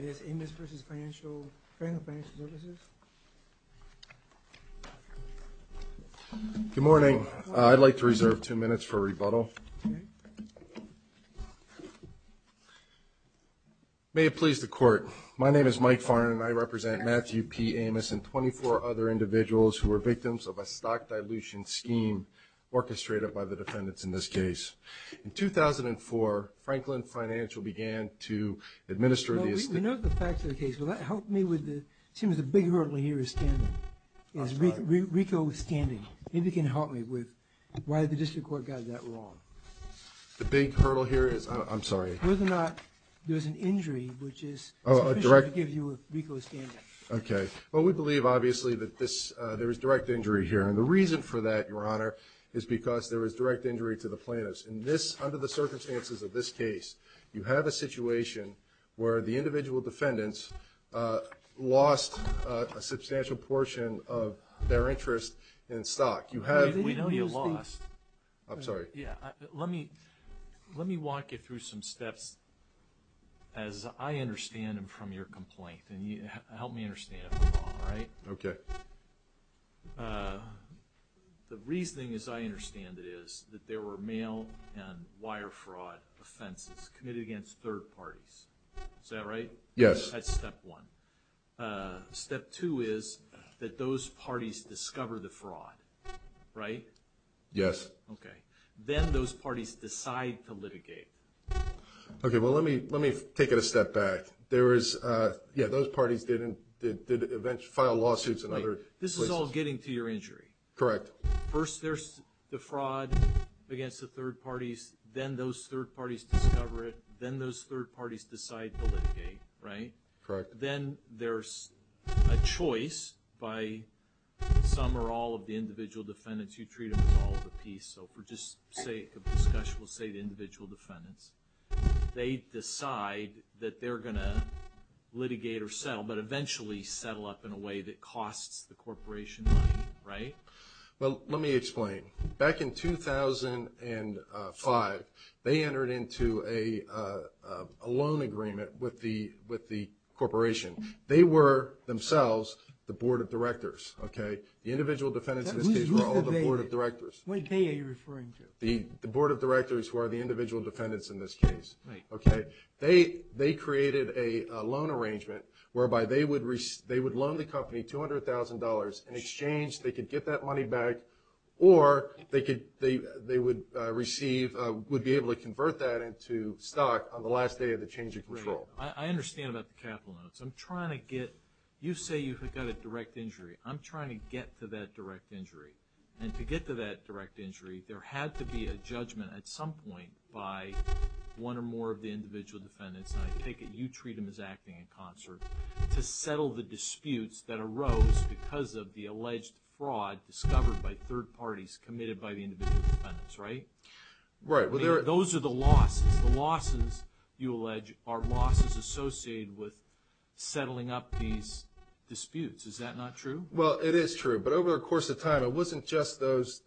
Good morning. I'd like to reserve two minutes for a rebuttal. May it please the court. My name is Mike Farnon and I represent Matthew P. Amos and 24 other individuals who were victims of a stock dilution scheme orchestrated by the defendants in this case. In 2004, Franklin FSC began to administer the... We know the facts of the case. Will that help me with the... It seems the big hurdle here is standing. Is RICO standing. Maybe you can help me with why the district court got that wrong. The big hurdle here is... I'm sorry. Whether or not there's an injury which is... Oh, a direct... Okay. Well, we believe obviously that this... there is direct injury here and the reason for that, Your Honor, is because there is direct injury to the plaintiffs. In this... under the circumstances of this case, you have a situation where the individual defendants lost a substantial portion of their interest in stock. You have... We know you lost. I'm sorry. Yeah. Let me walk you through some steps as I understand them from your complaint and you help me understand it, all right? Okay. The reasoning as I understand it is that there were mail and wire fraud offenses committed against third parties. Is that right? Yes. That's step one. Step two is that those parties discover the fraud, right? Yes. Okay. Then those parties decide to litigate. Okay. Well, let me take it a step back. There is... Yeah. Those parties didn't... did eventually file lawsuits and other... This is all getting to your injury. Correct. First, there's the fraud against the third parties. Then those third parties discover it. Then those third parties decide to litigate, right? Correct. Then there's a choice by some or all of the individual defendants. You treat them as all of the piece. So, for just sake of discussion, we'll say the individual defendants. They decide that they're going to litigate or settle, but eventually settle up in a way that in 2005, they entered into a loan agreement with the corporation. They were themselves the board of directors, okay? The individual defendants in this case were all the board of directors. What are you referring to? The board of directors who are the individual defendants in this case. Right. Okay. They created a loan arrangement whereby they would loan the company $200,000 in exchange. They could get that money back or they would receive... would be able to convert that into stock on the last day of the change of control. I understand about the capital notes. I'm trying to get... You say you've got a direct injury. I'm trying to get to that direct injury. And to get to that direct injury, there had to be a judgment at some point by one or more of the individual defendants. I take it you treat them as acting in concert to settle the disputes that the alleged fraud discovered by third parties committed by the individual defendants, right? Right. Those are the losses. The losses, you allege, are losses associated with settling up these disputes. Is that not true? Well, it is true. But over the course of time, it wasn't just those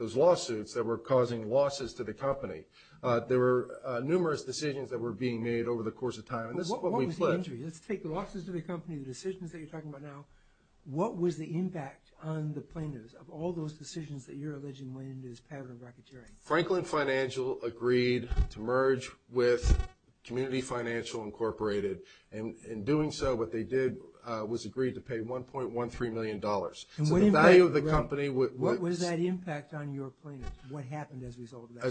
lawsuits that were causing losses to the company. There were numerous decisions that were being made over the course of time. And this is what we flipped. Let's take the losses to the company, the decisions that you're talking about now. What was the impact on the plaintiffs of all those decisions that you're alleging went into this pattern of racketeering? Franklin Financial agreed to merge with Community Financial Incorporated. In doing so, what they did was agreed to pay $1.13 million. So the value of the company... What was that impact on your plaintiffs? What happened as a result of that?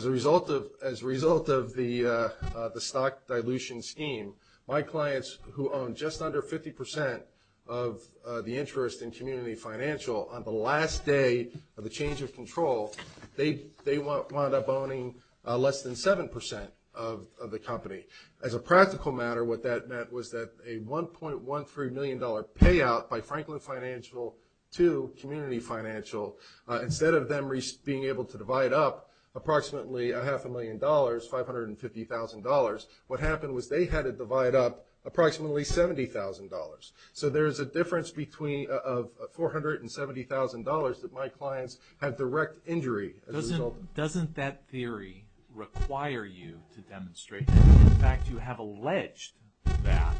As a result of the stock dilution scheme, my clients who own just under 50% of the interest in Community Financial on the last day of the change of control, they wound up owning less than 7% of the company. As a practical matter, what that meant was that a $1.13 million payout by Franklin Financial to Community Financial, instead of them being able to divide up approximately a half a million dollars, $550,000, what happened was they had to divide up approximately $70,000. So there's a difference between $400,000 and $70,000 that my clients had direct injury as a result of. Doesn't that theory require you to demonstrate? In fact, you have alleged that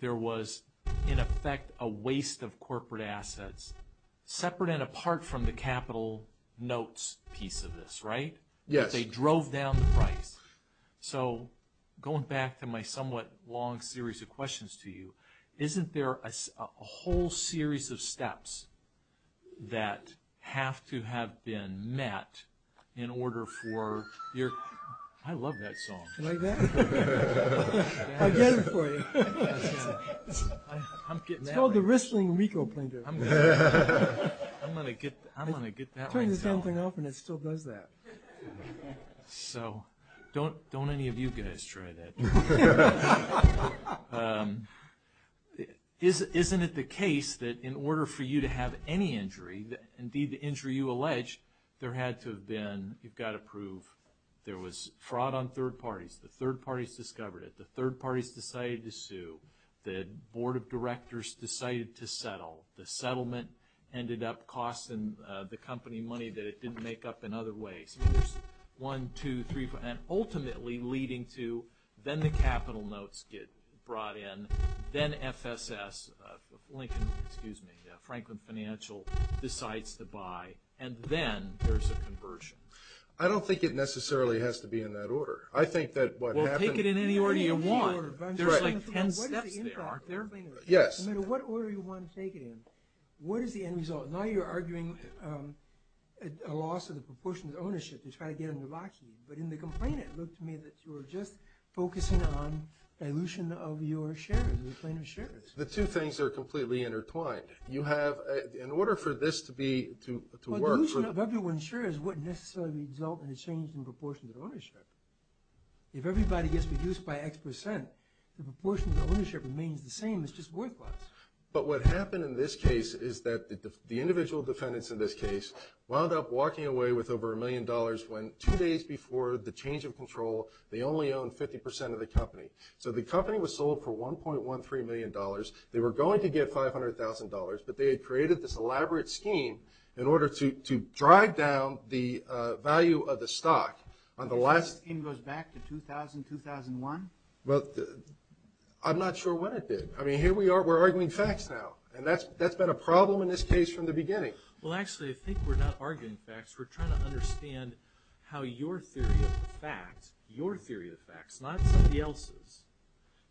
there was, in effect, a waste of corporate assets separate and apart from the capital notes piece of this, right? Yes. They drove down the price. So going back to my somewhat long series of questions to you, isn't there a whole series of steps that have to have been met in order for your... I love that song. You like that? I'll get it for you. I'm getting that one. It's called the Wristling Ricoh Plainter. I'm going to get that myself. It turns the same thing off and it still does that. So don't any of you guys try that. Isn't it the case that in order for you to have any injury, indeed the injury you allege, there had to have been, you've got to prove, there was fraud on third parties, the third parties discovered it, the third parties decided to sue, the board of directors decided to settle, the settlement ended up costing the company money that it didn't make up in other ways. So there's one, two, three, and ultimately leading to, then the capital notes get brought in, then FSS, Lincoln, excuse me, Franklin Financial decides to buy, and then there's a conversion. I don't think it necessarily has to be in that order. I think that what happened... Well, take it in any order you want. There's like 10 steps there, aren't there? Yes. No matter what order you want to take it in, what is the end result? Now you're arguing a loss of the proportion of the ownership to try to get into Lockheed, but in the complaint it looked to me that you were just focusing on dilution of your shares, the plaintiff's shares. The two things are completely intertwined. You have, in order for this to be, to work... Well, dilution of everyone's shares wouldn't necessarily result in a change in proportion to the ownership. If everybody gets reduced by X percent, the proportion of the ownership remains the same. It's just worth less. But what happened in this case is that the individual defendants in this case wound up walking away with over a million dollars when two days before the change of control, they only owned 50% of the company. So the company was sold for $1.13 million. They were going to get $500,000, but they had created this elaborate scheme in order to drive down the value of the stock on the last... The scheme goes back to 2000, 2001? Well, I'm not sure when it did. I mean, here we are, we're arguing facts now, and that's been a problem in this case from the beginning. Well, actually, I think we're not arguing facts. We're trying to understand how your theory of the facts, your theory of the facts, not somebody else's,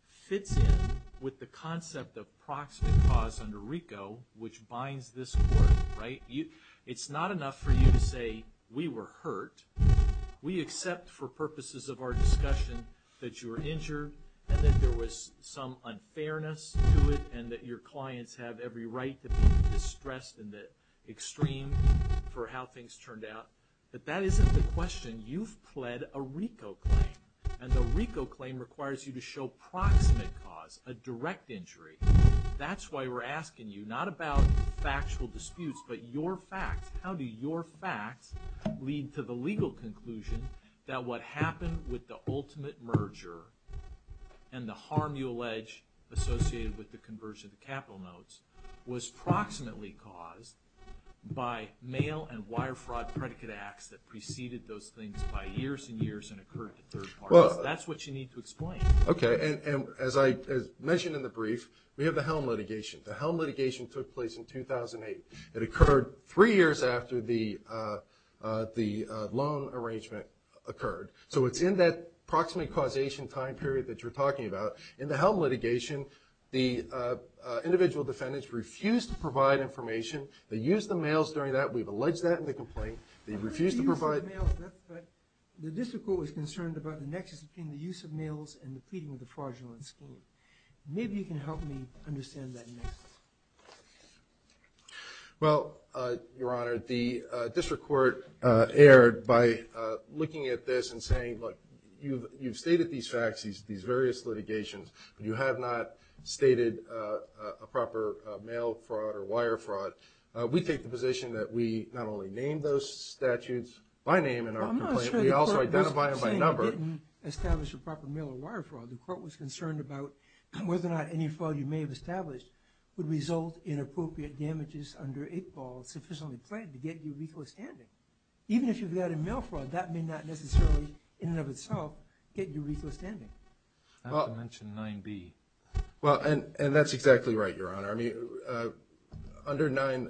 fits in with the concept of proximate cause under RICO, which binds this court, right? It's not enough for you to say, we were hurt. We accept for purposes of our discussion that you were injured and that there was some unfairness to it and that your clients have every right to be distressed in the extreme for how things turned out. But that isn't the question. You've pled a RICO claim, and the RICO claim requires you to show proximate cause, a direct injury. That's why we're asking you not about factual disputes, but your facts. How do your facts lead to the legal conclusion that what happened with the ultimate merger and the harm you allege associated with the conversion of the capital notes was proximately caused by mail and wire fraud predicate acts that preceded those things by years and years and occurred to third parties? That's what you need to explain. Okay, and as I mentioned in the brief, we have the Helm litigation. The Helm litigation took place in 2008. It occurred three years after the loan arrangement occurred. So it's in that proximate causation time period that you're talking about. In the Helm litigation, the individual defendants refused to provide information. They used the mails during that. We've alleged that in the complaint. They refused to provide... The district court was concerned about the nexus between the use of mails and the pleading of the fraudulent scheme. Maybe you can help me understand that. Well, Your Honor, the district court erred by looking at this and saying, look, you've stated these facts, these various litigations, but you have not stated a proper mail fraud or wire fraud. We take the position that we not only name those statutes by name but we also identify them by number. I'm not saying you didn't establish a proper mail or wire fraud. The court was concerned about whether or not any fraud you may have established would result in appropriate damages under 8-Ball sufficiently pledged to get you recall standing. Even if you've got a mail fraud, that may not necessarily, in and of itself, get you recall standing. Not to mention 9-B. Well, and that's exactly right, Your Honor. I mean, under 9,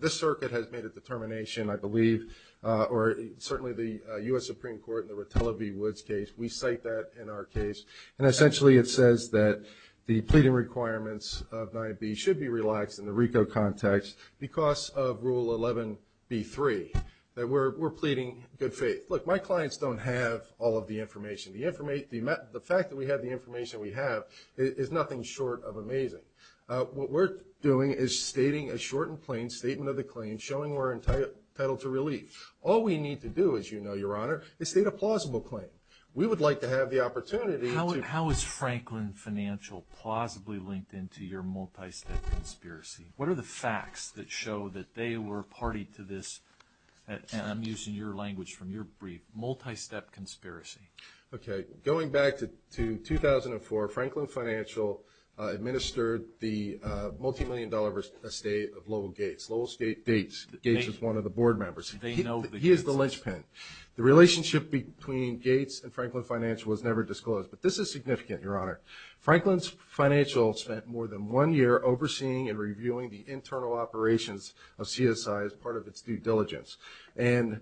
this circuit has made a determination, I believe, or certainly the U.S. Supreme Court in the Rotella v. Woods case, we cite that in our case. And essentially it says that the pleading requirements of 9-B should be relaxed in the RICO context because of Rule 11-B-3, that we're pleading good faith. Look, my clients don't have all of the information. The fact that we have the information we have is nothing short of amazing. What we're doing is stating a short and plain statement of the claim showing we're entitled to relief. All we need to do, as you know, Your Honor, is state a plausible claim. We would like to have the opportunity to... How is Franklin Financial plausibly linked into your multi-step conspiracy? What are the facts that show that they were party to this, and I'm using your language from your brief, multi-step conspiracy? Okay. Going back to 2004, Franklin Financial administered the multimillion dollar estate of Lowell Gates. Lowell Gates is one of the board members. He is the linchpin. The relationship between Gates and Franklin Financial was never disclosed, but this is significant, Your Honor. Franklin Financial spent more than one year overseeing and reviewing the internal operations of CSI as part of its due diligence. And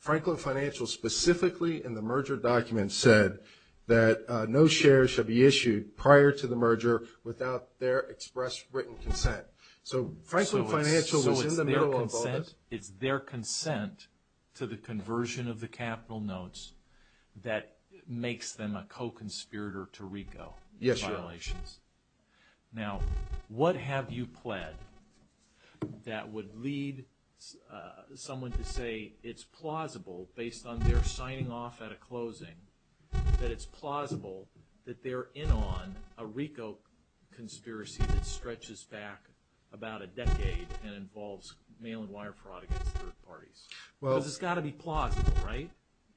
Franklin Financial specifically in the merger document said that no shares should be issued prior to the merger without their express written consent. So Franklin Financial was in the middle of all this. It's their consent to the conversion of the capital notes that makes them a co-conspirator to RICO in violations. Now, what have you pled that would lead someone to say it's plausible based on their signing off at a closing, that it's plausible that they're in on a RICO conspiracy that stretches back about a decade and involves mail-in wire fraud against third parties? Because it's got to be plausible, right?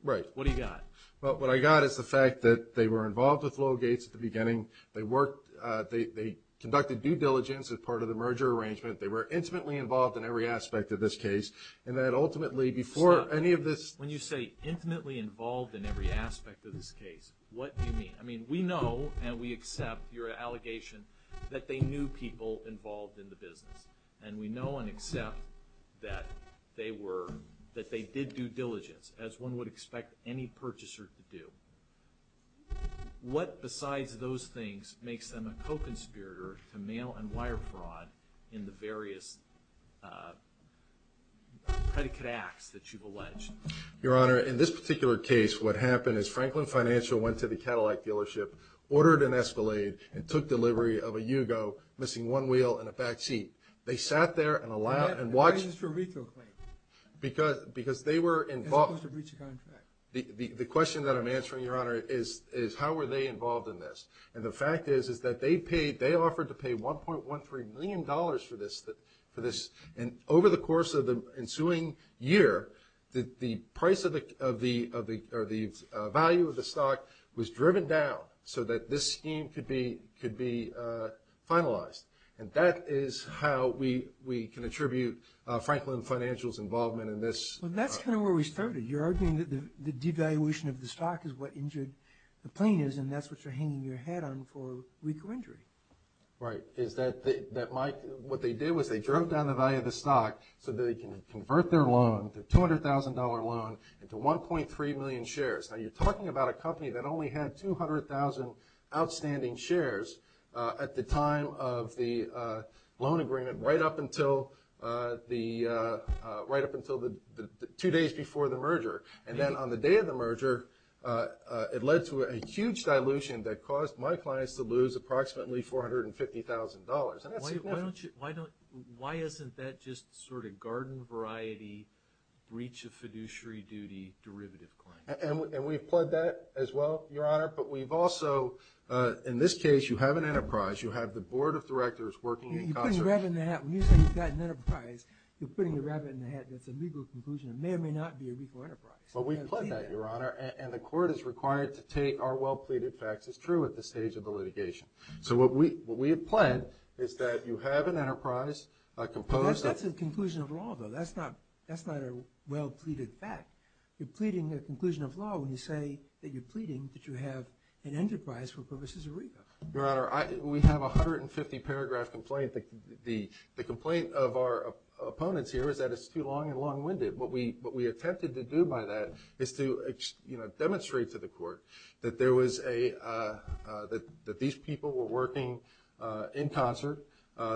Right. What do you got? Well, what I got is the fact that they were involved with Lowell Gates at the beginning. They worked, they conducted due diligence as part of the merger arrangement. They were infinitely involved in every aspect of this case. What do you mean? I mean, we know and we accept your allegation that they knew people involved in the business. And we know and accept that they did due diligence as one would expect any purchaser to do. What besides those things makes them a co-conspirator to mail-in wire fraud in the in this particular case, what happened is Franklin Financial went to the Cadillac dealership, ordered an Escalade, and took delivery of a Yugo missing one wheel and a back seat. They sat there and allowed and watched... Why is this for a RICO claim? Because they were involved... As opposed to breach of contract. The question that I'm answering, Your Honor, is how were they involved in this? And the fact is, is that they paid, they offered to pay $1.13 million for this. And over the course of the process, the value of the stock was driven down so that this scheme could be finalized. And that is how we can attribute Franklin Financial's involvement in this. That's kind of where we started. You're arguing that the devaluation of the stock is what injured the plaintiff and that's what you're hanging your head on for RICO injury. Right. What they did was they drove down the value of the stock so that they can convert their loan, their $200,000 loan, into 1.3 million shares. Now, you're talking about a company that only had 200,000 outstanding shares at the time of the loan agreement right up until the, right up until the two days before the merger. And then on the day of the merger, it led to a huge dilution that caused my clients to lose approximately $450,000. And that's significant. Why don't you, why don't, why isn't that just sort of garden variety, breach of fiduciary duty, derivative claim? And we've pled that as well, Your Honor, but we've also, in this case, you have an enterprise, you have the board of directors working in concert. You're putting a rabbit in the hat. When you say you've got an enterprise, you're putting a rabbit in the hat. That's a legal conclusion. It may or may not be a RICO enterprise. But we've pled that, Your Honor, and the court is required to take our well-pleaded facts as true at this stage of the litigation. So what we, what we have pled is that you have an enterprise composed of... That's a conclusion of law, though. That's not, that's not a well-pleaded fact. You're pleading a conclusion of law when you say that you're pleading that you have an enterprise for purposes of RICO. Your Honor, I, we have 150 paragraph complaint. The, the, the complaint of our opponents here is that it's too long and long-winded. What we, what we attempted to do by that is to, you know, demonstrate to the court that there was a, that, that these people were working in concert,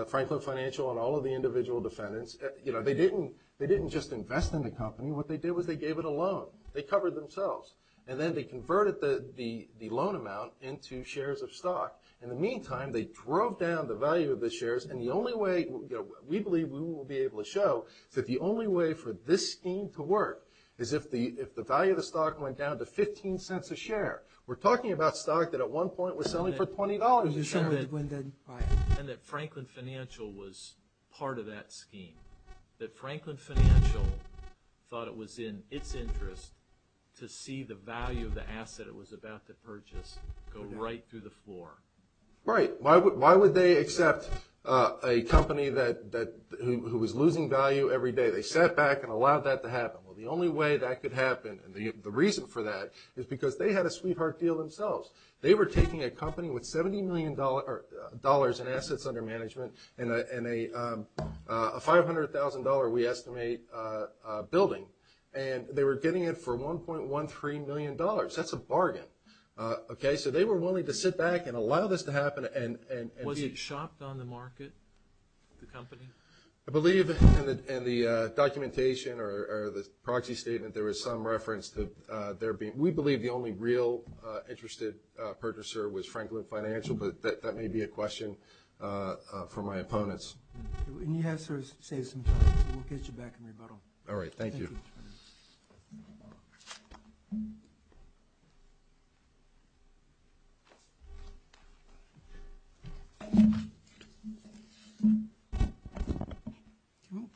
Franklin Financial and all of the individual defendants. You know, they didn't, they didn't just invest in the company. What they did was they gave it a loan. They covered themselves. And then they converted the, the, the loan amount into shares of stock. In the meantime, they drove down the value of the shares. And the only way, you know, we believe we will be able to show that the only way for this scheme to work is if the, if the value of the stock went down to 15 cents a share. We're talking about stock that at one point was selling for $20 a share. And that Franklin Financial was part of that scheme. That Franklin Financial thought it was in its interest to see the value of the asset it was about to purchase go right through the floor. Right. Why, why would they accept a company that, that, who, who was losing value every day? They sat back and allowed that to happen. Well, the only way that could happen and the, the reason for that is because they had a sweetheart deal themselves. They were taking a company with $70 million dollars in assets under management and a, and a, a $500,000 we estimate building. And they were getting it for $1.13 million. That's a bargain. Okay. So they were willing to sit back and allow this to happen and, and. Was it shopped on the market, the company? I believe in the, in the documentation or, or the proxy statement, there was some reference to there being, we believe the only real interested purchaser was Franklin Financial, but that, that may be a possibility.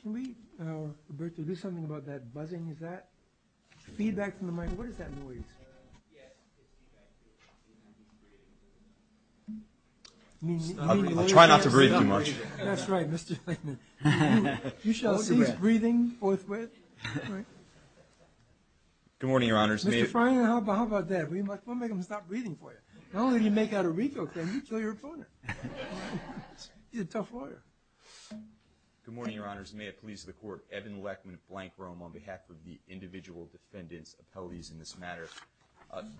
Can we, Roberto, do something about that buzzing? Is that feedback from the mic? What is that noise? I'll try not to breathe too much. That's right, Mr. Franklin. You shall cease breathing forthwith. Good morning, Your Honors. Mr. Franklin, how about, how about that? We might, we might make him stop breathing for you. Not only do you make out a RICO claim, you kill your opponent. He's a tough lawyer. Good morning, Your Honors. May it please the Court. Evan Lechman of Blank Rome on behalf of the individual defendants appellees in this matter.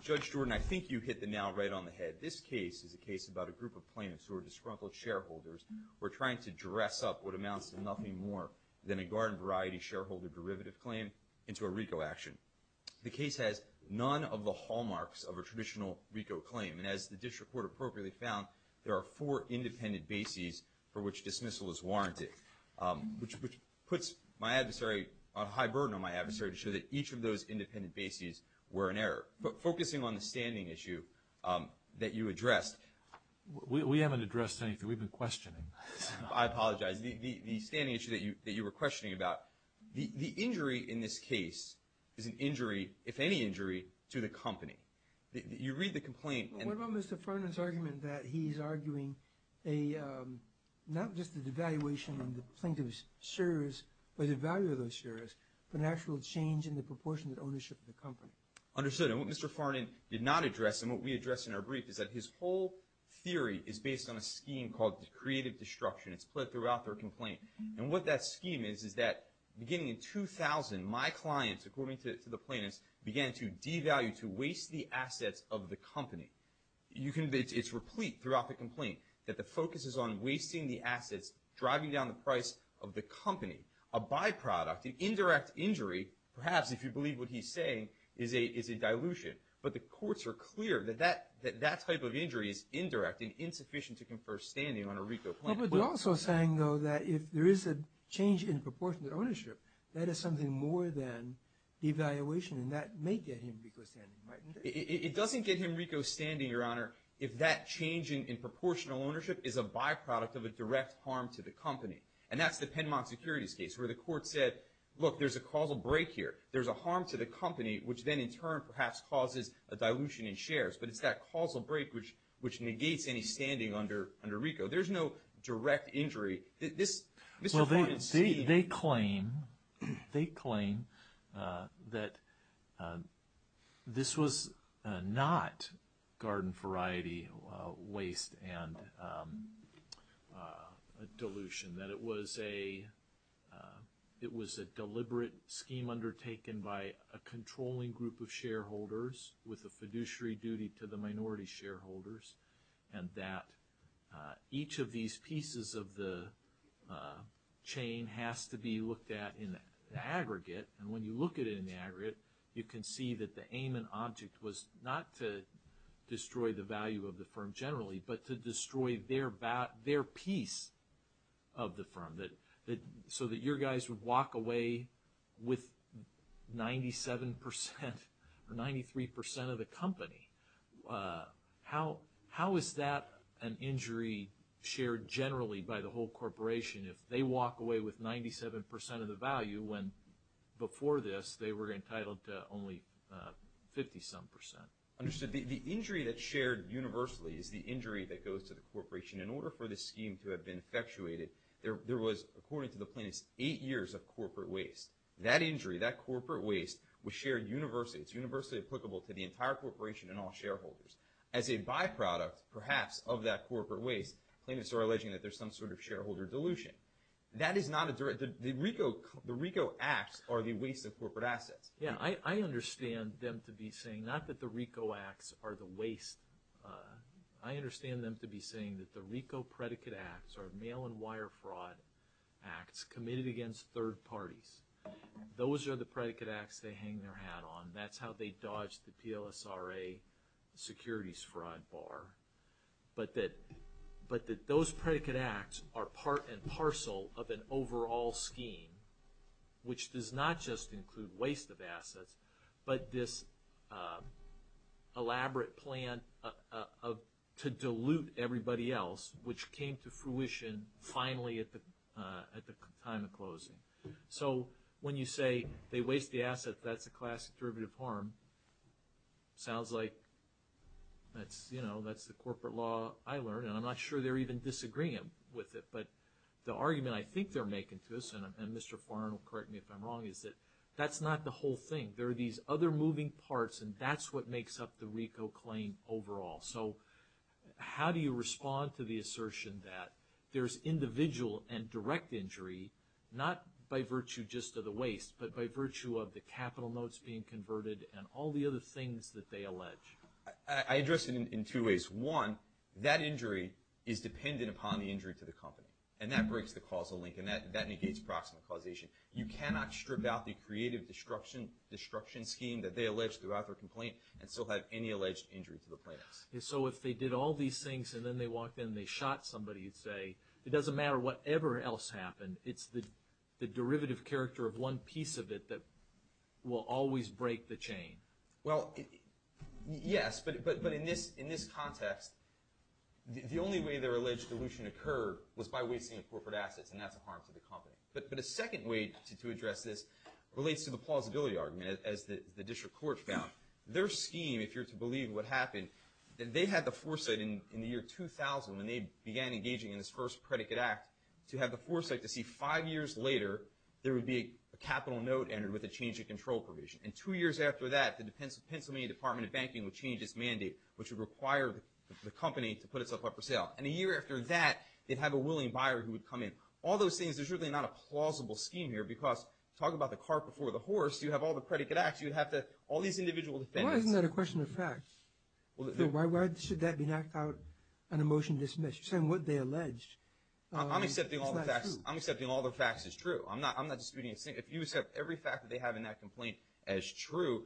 Judge Jordan, I think you hit the nail right on the head. This case is a case about a group of plaintiffs who are disgruntled shareholders who are trying to dress up what amounts to nothing more than a garden variety shareholder derivative claim into a RICO action. The case has none of the hallmarks of a traditional RICO claim. And as the district court appropriately found, there are four independent bases for which dismissal is warranted, which puts my adversary, a high burden on my adversary to show that each of those independent bases were an error. But focusing on the standing issue that you addressed. We haven't addressed anything. We've been questioning. I apologize. The standing issue that you were questioning about, the injury in this case is an injury, if any injury, to the you read the complaint. What about Mr. Farnon's argument that he's arguing a, not just the devaluation in the plaintiff's shares, but the value of those shares, but an actual change in the proportionate ownership of the company? Understood. And what Mr. Farnon did not address and what we addressed in our brief is that his whole theory is based on a scheme called creative destruction. It's played throughout their complaint. And what that scheme is, is that beginning in 2000, my clients, according to the plaintiffs, began to devalue, to waste the assets of the company. You can, it's replete throughout the complaint, that the focus is on wasting the assets, driving down the price of the company. A by-product, an indirect injury, perhaps if you believe what he's saying, is a dilution. But the courts are clear that that type of injury is indirect and insufficient to confer standing on a RICO claim. But they're also saying though that if there is a change in proportional ownership, that is something more than devaluation and that may get him RICO standing, right? It doesn't get him RICO standing, Your Honor, if that change in proportional ownership is a by-product of a direct harm to the company. And that's the Penmont Securities case where the court said, look, there's a causal break here. There's a harm to the company, which then in turn perhaps causes a dilution in shares. But it's that causal break which negates any standing under RICO. There's no direct injury. This, Mr. Horne and Steeve... Well, they claim that this was not garden variety waste and a dilution. That it was a deliberate scheme undertaken by a controlling group of shareholders with a fiduciary duty to the minority shareholders and that each of these pieces of the chain has to be looked at in the aggregate. And when you look at it in the aggregate, you can see that the aim and object was not to destroy the value of the firm generally, but to destroy their piece of the firm. So that your question is, if they walk away with 97% or 93% of the company, how is that an injury shared generally by the whole corporation if they walk away with 97% of the value when before this they were entitled to only 50-some percent? Understood. The injury that's shared universally is the injury that goes to the corporation. In order for this scheme to have been effectuated, there was, according to the plaintiffs, eight years of corporate waste. That injury, that corporate waste, was shared universally. It's universally applicable to the entire corporation and all shareholders. As a byproduct, perhaps, of that corporate waste, plaintiffs are alleging that there's some sort of shareholder dilution. The RICO acts are the waste of corporate assets. Yeah, I understand them to be saying not that the RICO acts are the waste. I understand them to be saying that the RICO predicate acts are mail-and-wire fraud acts committed against third parties. Those are the predicate acts they hang their hat on. That's how they dodged the PLSRA securities fraud bar. But that those predicate acts are part and parcel of an overall scheme which does not just include waste of assets, but this elaborate plan to dilute everybody else, which came to fruition finally at the time of closing. So when you say they waste the asset, that's a classic derivative harm. Sounds like that's the corporate law I learned, and I'm not sure they're even disagreeing with it. But the argument I think they're making to us, and Mr. Farrar will correct me if I'm wrong, is that that's not the whole thing. There are these other moving parts, and that's what makes up the RICO claim overall. So how do you respond to the assertion that there's individual and direct injury, not by virtue just of the waste, but by virtue of the capital notes being converted and all the other things that they allege? I address it in two ways. One, that injury is dependent upon the injury to the company, and that breaks the causal link, and that negates proximate causation. You cannot strip out the creative destruction scheme that they allege throughout their complaint and still have any alleged injury to the plaintiffs. So if they did all these things and then they walked in and they shot somebody, you'd say it doesn't matter whatever else happened. It's the derivative character of one piece of it that will always break the chain. Well, yes, but in this context, the only way their alleged dilution occurred was by wasting the corporate assets, and that's a harm to the company. But a second way to address this relates to the plausibility argument, as the district court found. Their scheme, if you're to believe what happened, they had the foresight in the year 2000 when they began engaging in this first predicate act to have the foresight to see five years later there would be a capital note entered with a change of control provision. And two years after that, the Pennsylvania Department of Banking would change its mandate, which would require the company to put itself up for sale. And a year after that, they'd have a willing buyer who would come in. All those things, there's really not a plausible scheme here, because talk about the cart before the horse, you have all the predicate acts, you'd have all these individual defendants. Why isn't that a question of facts? Why should that be knocked out and a motion dismissed? You're saying what they alleged is not true. I'm accepting all the facts as true. I'm not disputing a thing. If you accept every fact that as true,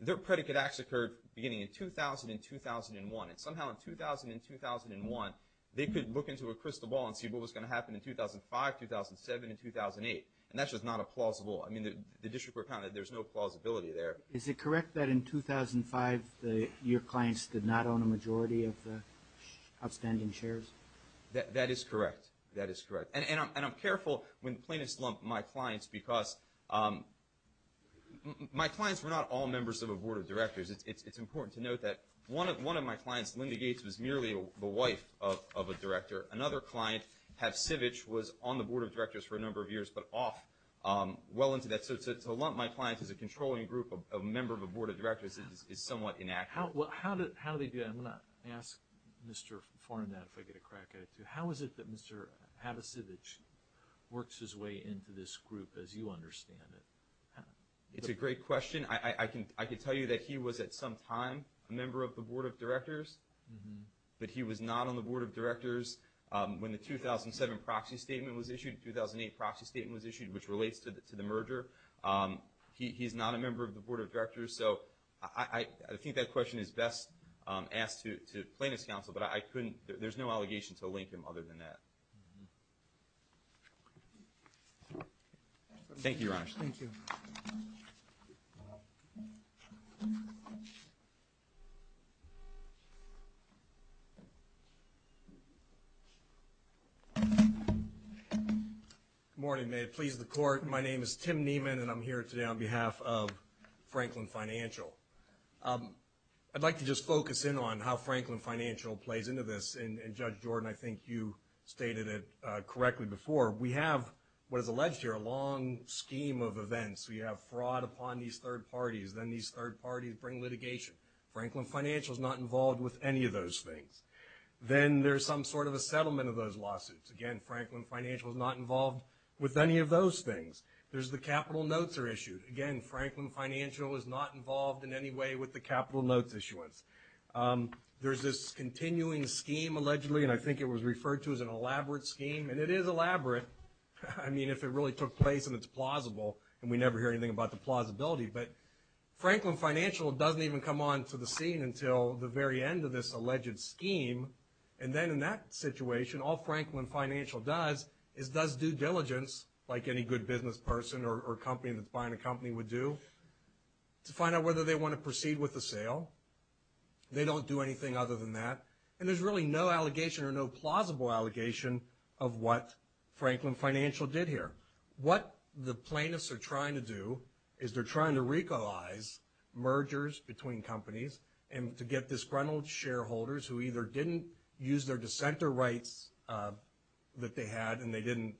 their predicate acts occurred beginning in 2000 and 2001. And somehow in 2000 and 2001, they could look into a crystal ball and see what was going to happen in 2005, 2007, and 2008. And that's just not a plausible, I mean, the district court found that there's no plausibility there. Is it correct that in 2005, your clients did not own a majority of the outstanding shares? That is correct. That is correct. And I'm careful when plaintiffs lump my clients, because my clients were not all members of a board of directors. It's important to note that one of my clients, Linda Gates, was merely the wife of a director. Another client, Hav Sivich, was on the board of directors for a number of years, but off well into that. So to lump my clients as a controlling group of a member of a board of directors is somewhat inaccurate. Well, how do they do that? I'm going to ask Mr. Fornadat if I get a crack at it, too. How is it that Mr. Hav Sivich works his way into this group as you understand it? It's a great question. I can tell you that he was at some time a member of the board of directors, but he was not on the board of directors when the 2007 proxy statement was issued, 2008 proxy statement was issued, which relates to the merger. He's not a member of the board of directors. So I think that question is best asked to plaintiffs' counsel, but there's no answer to that. Thank you, Your Honor. Thank you. Good morning. May it please the Court. My name is Tim Nieman, and I'm here today on behalf of Franklin Financial. I'd like to just focus in on how Franklin Financial plays into this, and Judge Jordan, I think you stated it correctly before. We have what is alleged here, a long scheme of events. We have fraud upon these third parties. Then these third parties bring litigation. Franklin Financial is not involved with any of those things. Then there's some sort of a settlement of those lawsuits. Again, Franklin Financial is not involved with any of those things. There's the capital notes are issued. Again, Franklin Financial is not involved in any way with the capital notes issuance. There's this continuing scheme, allegedly, and I think it was referred to as an elaborate scheme, and it is elaborate. I mean, if it really took place and it's plausible, and we never hear anything about the plausibility. But Franklin Financial doesn't even come onto the scene until the very end of this alleged scheme, and then in that situation, all Franklin Financial does is does due diligence, like any good business person or company that's buying a company would do, to find out whether they want to proceed with the sale. They don't do anything other than that, and there's really no allegation or no plausible allegation of what Franklin Financial did here. What the plaintiffs are trying to do is they're trying to recolize mergers between companies and to get disgruntled shareholders who either didn't use their dissenter rights that they had and they didn't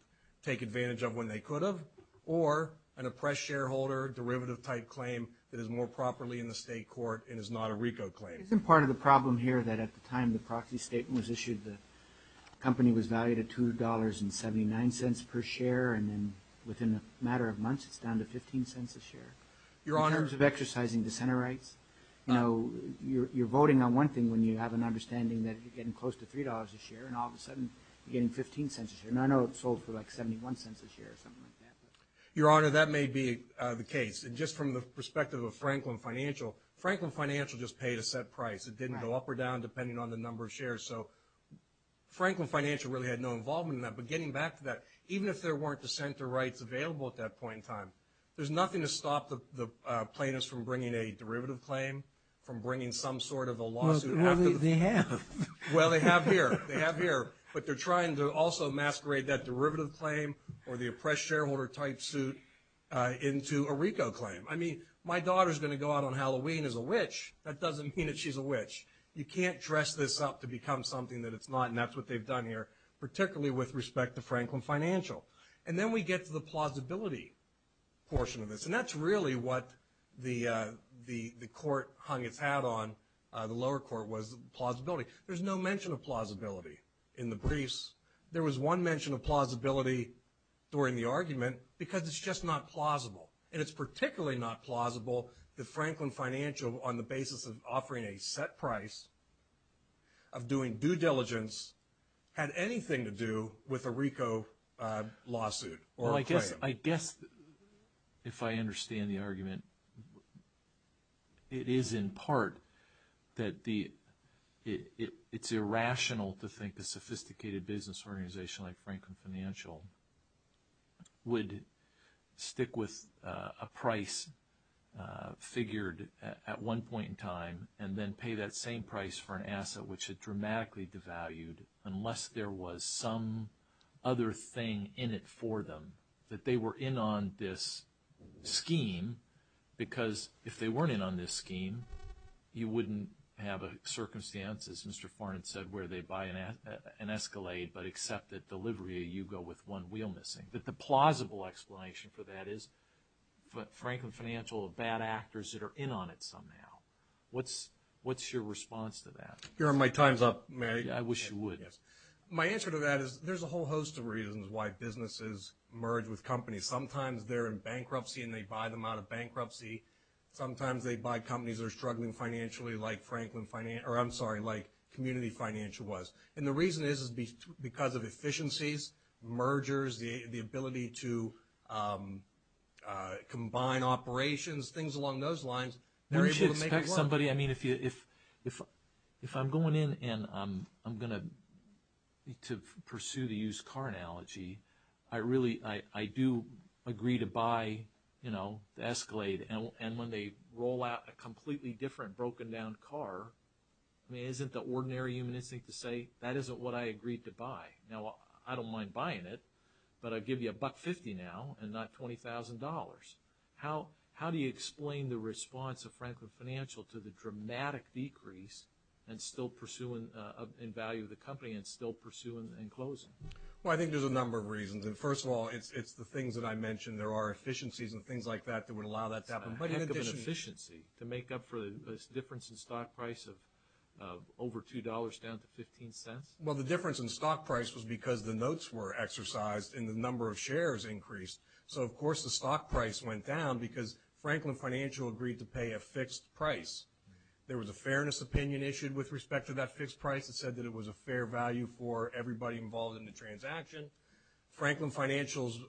take advantage of when they could have, or an oppressed shareholder derivative type claim that is more properly in the state court and is not a RICO claim. Isn't part of the problem here that at the time the proxy statement was issued, the company was valued at $2.79 per share, and then within a matter of months, it's down to $0.15 a share? In terms of exercising dissenter rights, you're voting on one thing when you have an understanding that you're getting close to $3 a share, and all of a sudden, you're getting $0.15 a share. And I know it sold for like $0.71 a share or something like that. Your Honor, that may be the case. And just from the perspective of Franklin Financial, Franklin Financial just paid a set price. It didn't go up or down depending on the number of shares. So Franklin Financial really had no involvement in that. But getting back to that, even if there weren't dissenter rights available at that point in time, there's nothing to stop the plaintiffs from bringing a derivative claim, from bringing some sort of a lawsuit. Well, they have. Well, they have here. They have here. But they're trying to also masquerade that derivative claim or the oppressed shareholder type suit into a RICO claim. I mean, my daughter's going to go out on Halloween as a witch. That doesn't mean that she's a witch. You can't dress this up to become something that it's not, and that's what they've done here, particularly with respect to Franklin Financial. And then we get to the plausibility portion of this. And that's really what the court hung its hat on, the lower court, was the plausibility. There's no mention of plausibility in the briefs. There was one mention of plausibility during the argument because it's just not plausible. And it's particularly not plausible that Franklin Financial, on the basis of offering a set price of doing due diligence, had anything to do with a RICO lawsuit or a claim. I guess, if I understand the argument, it is in part that it's irrational to think a sophisticated business organization like Franklin Financial would stick with a price figured at one point in time and then pay that same price for an asset which had dramatically devalued unless there was some other thing in it for them that they were in on this scheme. Because if they weren't in on this scheme, you wouldn't have a circumstance, as Mr. Farnon said, where they buy an Escalade but accept that delivery, you go with one wheel missing. But the plausible explanation for that is Franklin Financial are bad actors that are in on it now. What's your response to that? You're on my time's up, Mary. I wish you would. Yes. My answer to that is there's a whole host of reasons why businesses merge with companies. Sometimes they're in bankruptcy and they buy them out of bankruptcy. Sometimes they buy companies that are struggling financially like Franklin Financial, or I'm sorry, like Community Financial was. And the reason is because of efficiencies, mergers, the ability to combine operations, things along those lines. Mary, should I expect somebody, I mean, if I'm going in and I'm going to pursue the used car analogy, I really, I do agree to buy the Escalade. And when they roll out a completely different broken down car, I mean, isn't the ordinary human instinct to say that isn't what I agreed to buy? Now, I don't mind buying it, but I'd give you $1.50 now and not $20,000. How do you explain the response of Franklin Financial to the dramatic decrease in value of the company and still pursue and close it? Well, I think there's a number of reasons. And first of all, it's the things that I mentioned. There are efficiencies and things like that that would allow that to happen. But in addition- It's a heck of an efficiency to make up for the difference in stock price of over $2 down to 15 cents? Well, the difference in stock price was because the notes were exercised and the number of shares increased. So, of course, the stock price went down because Franklin Financial agreed to pay a fixed price. There was a fairness opinion issued with respect to that fixed price that said that it was a fair value for everybody involved in the transaction. Franklin Financial's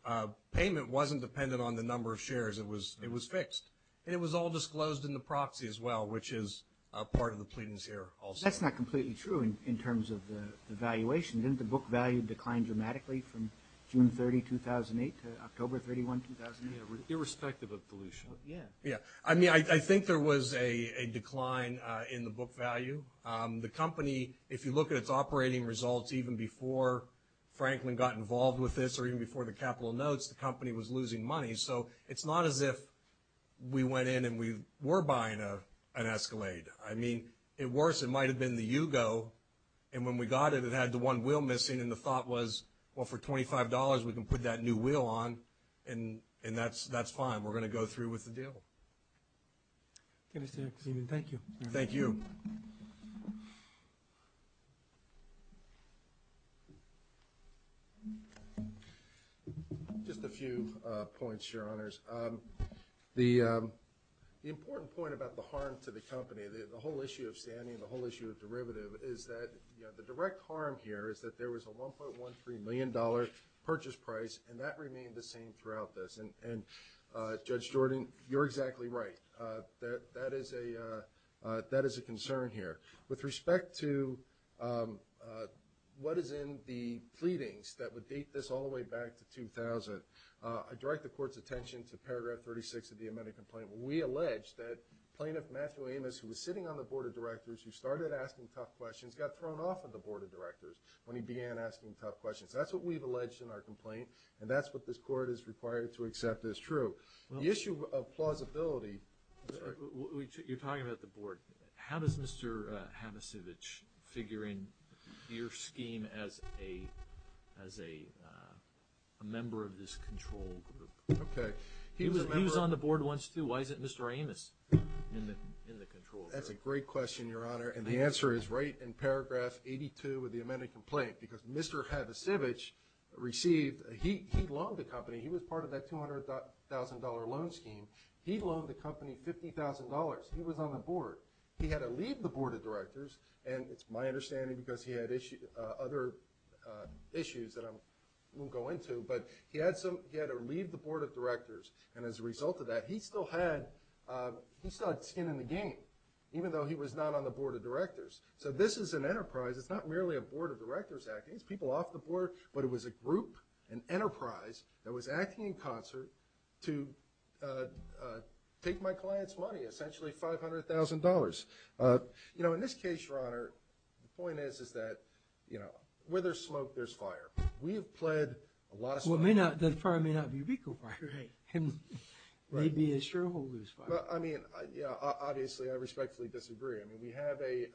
payment wasn't dependent on the number of shares. It was fixed. And it was all disclosed in the proxy as well, which is a part of the pleadings here also. That's not completely true in terms of the valuation. Didn't the book value decline dramatically from June 30, 2008 to October 31, 2008? Yeah. Irrespective of dilution. Yeah. Yeah. I mean, I think there was a decline in the book value. The company, if you look at its operating results even before Franklin got involved with this or even before the capital notes, the company was losing money. So it's not as if we went in and we were buying an Escalade. I mean, at worst, it might have been the Yugo. And when we got it, it had the one wheel missing. And the thought was, well, for $25, we can put that new wheel on. And that's fine. We're going to go through with the deal. Thank you. Thank you. Just a few points, Your Honors. The important point about the harm to the company, the whole harm here is that there was a $1.13 million purchase price, and that remained the same throughout this. And Judge Jordan, you're exactly right. That is a concern here. With respect to what is in the pleadings that would date this all the way back to 2000, I direct the Court's attention to paragraph 36 of the amended complaint, where we allege that Plaintiff Matthew Amos, who was sitting on the Board of Directors, who started asking tough questions. That's what we've alleged in our complaint, and that's what this Court is required to accept as true. The issue of plausibility... You're talking about the Board. How does Mr. Havisevich figure in your scheme as a member of this control group? Okay. He was on the Board once, too. Why isn't Mr. Amos in the control group? That's a great question, Your Honor, and the answer is right in paragraph 82 of the amended complaint, because Mr. Havisevich received... He loaned the company. He was part of that $200,000 loan scheme. He loaned the company $50,000. He was on the Board. He had to leave the Board of Directors, and it's my understanding because he had other issues that I won't go into, but he had to leave the Board of Directors, and as a result of that, he still had skin in the game, even though he was not on the Board of Directors. So this is an enterprise. It's not merely a Board of Directors acting. It's people off the Board, but it was a group, an enterprise that was acting in concert to take my client's money, essentially $500,000. In this case, Your Honor, the point is that where there's smoke, there's fire. We have pled a lot of... Well, the fire may not be a vehicle fire. Maybe a shareholder's fire. Well, I mean, obviously, I respectfully disagree. I mean, we have a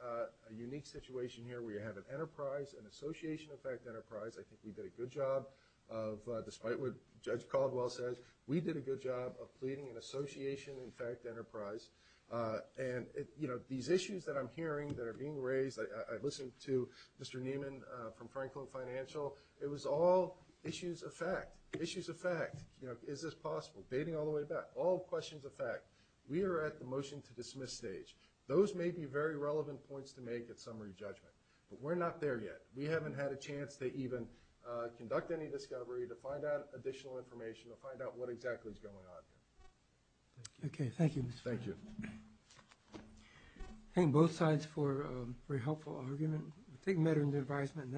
unique situation here. We have an enterprise, an association effect enterprise. I think we did a good job of, despite what Judge Caldwell says, we did a good job of pleading an association effect enterprise, and these issues that I'm hearing that are being raised, I listened to Mr. Neiman from Franklin Financial. It was all issues of fact. Issues of fact. Is this possible? Baiting all the way back. All questions of fact. We are at the motion to dismiss stage. Those may be very relevant points to make at summary judgment, but we're not there yet. We haven't had a chance to even conduct any discovery, to find out additional information, to find out what exactly is going on here. Okay, thank you. Thank you. I thank both sides for a very helpful argument. I take the matter into advisement.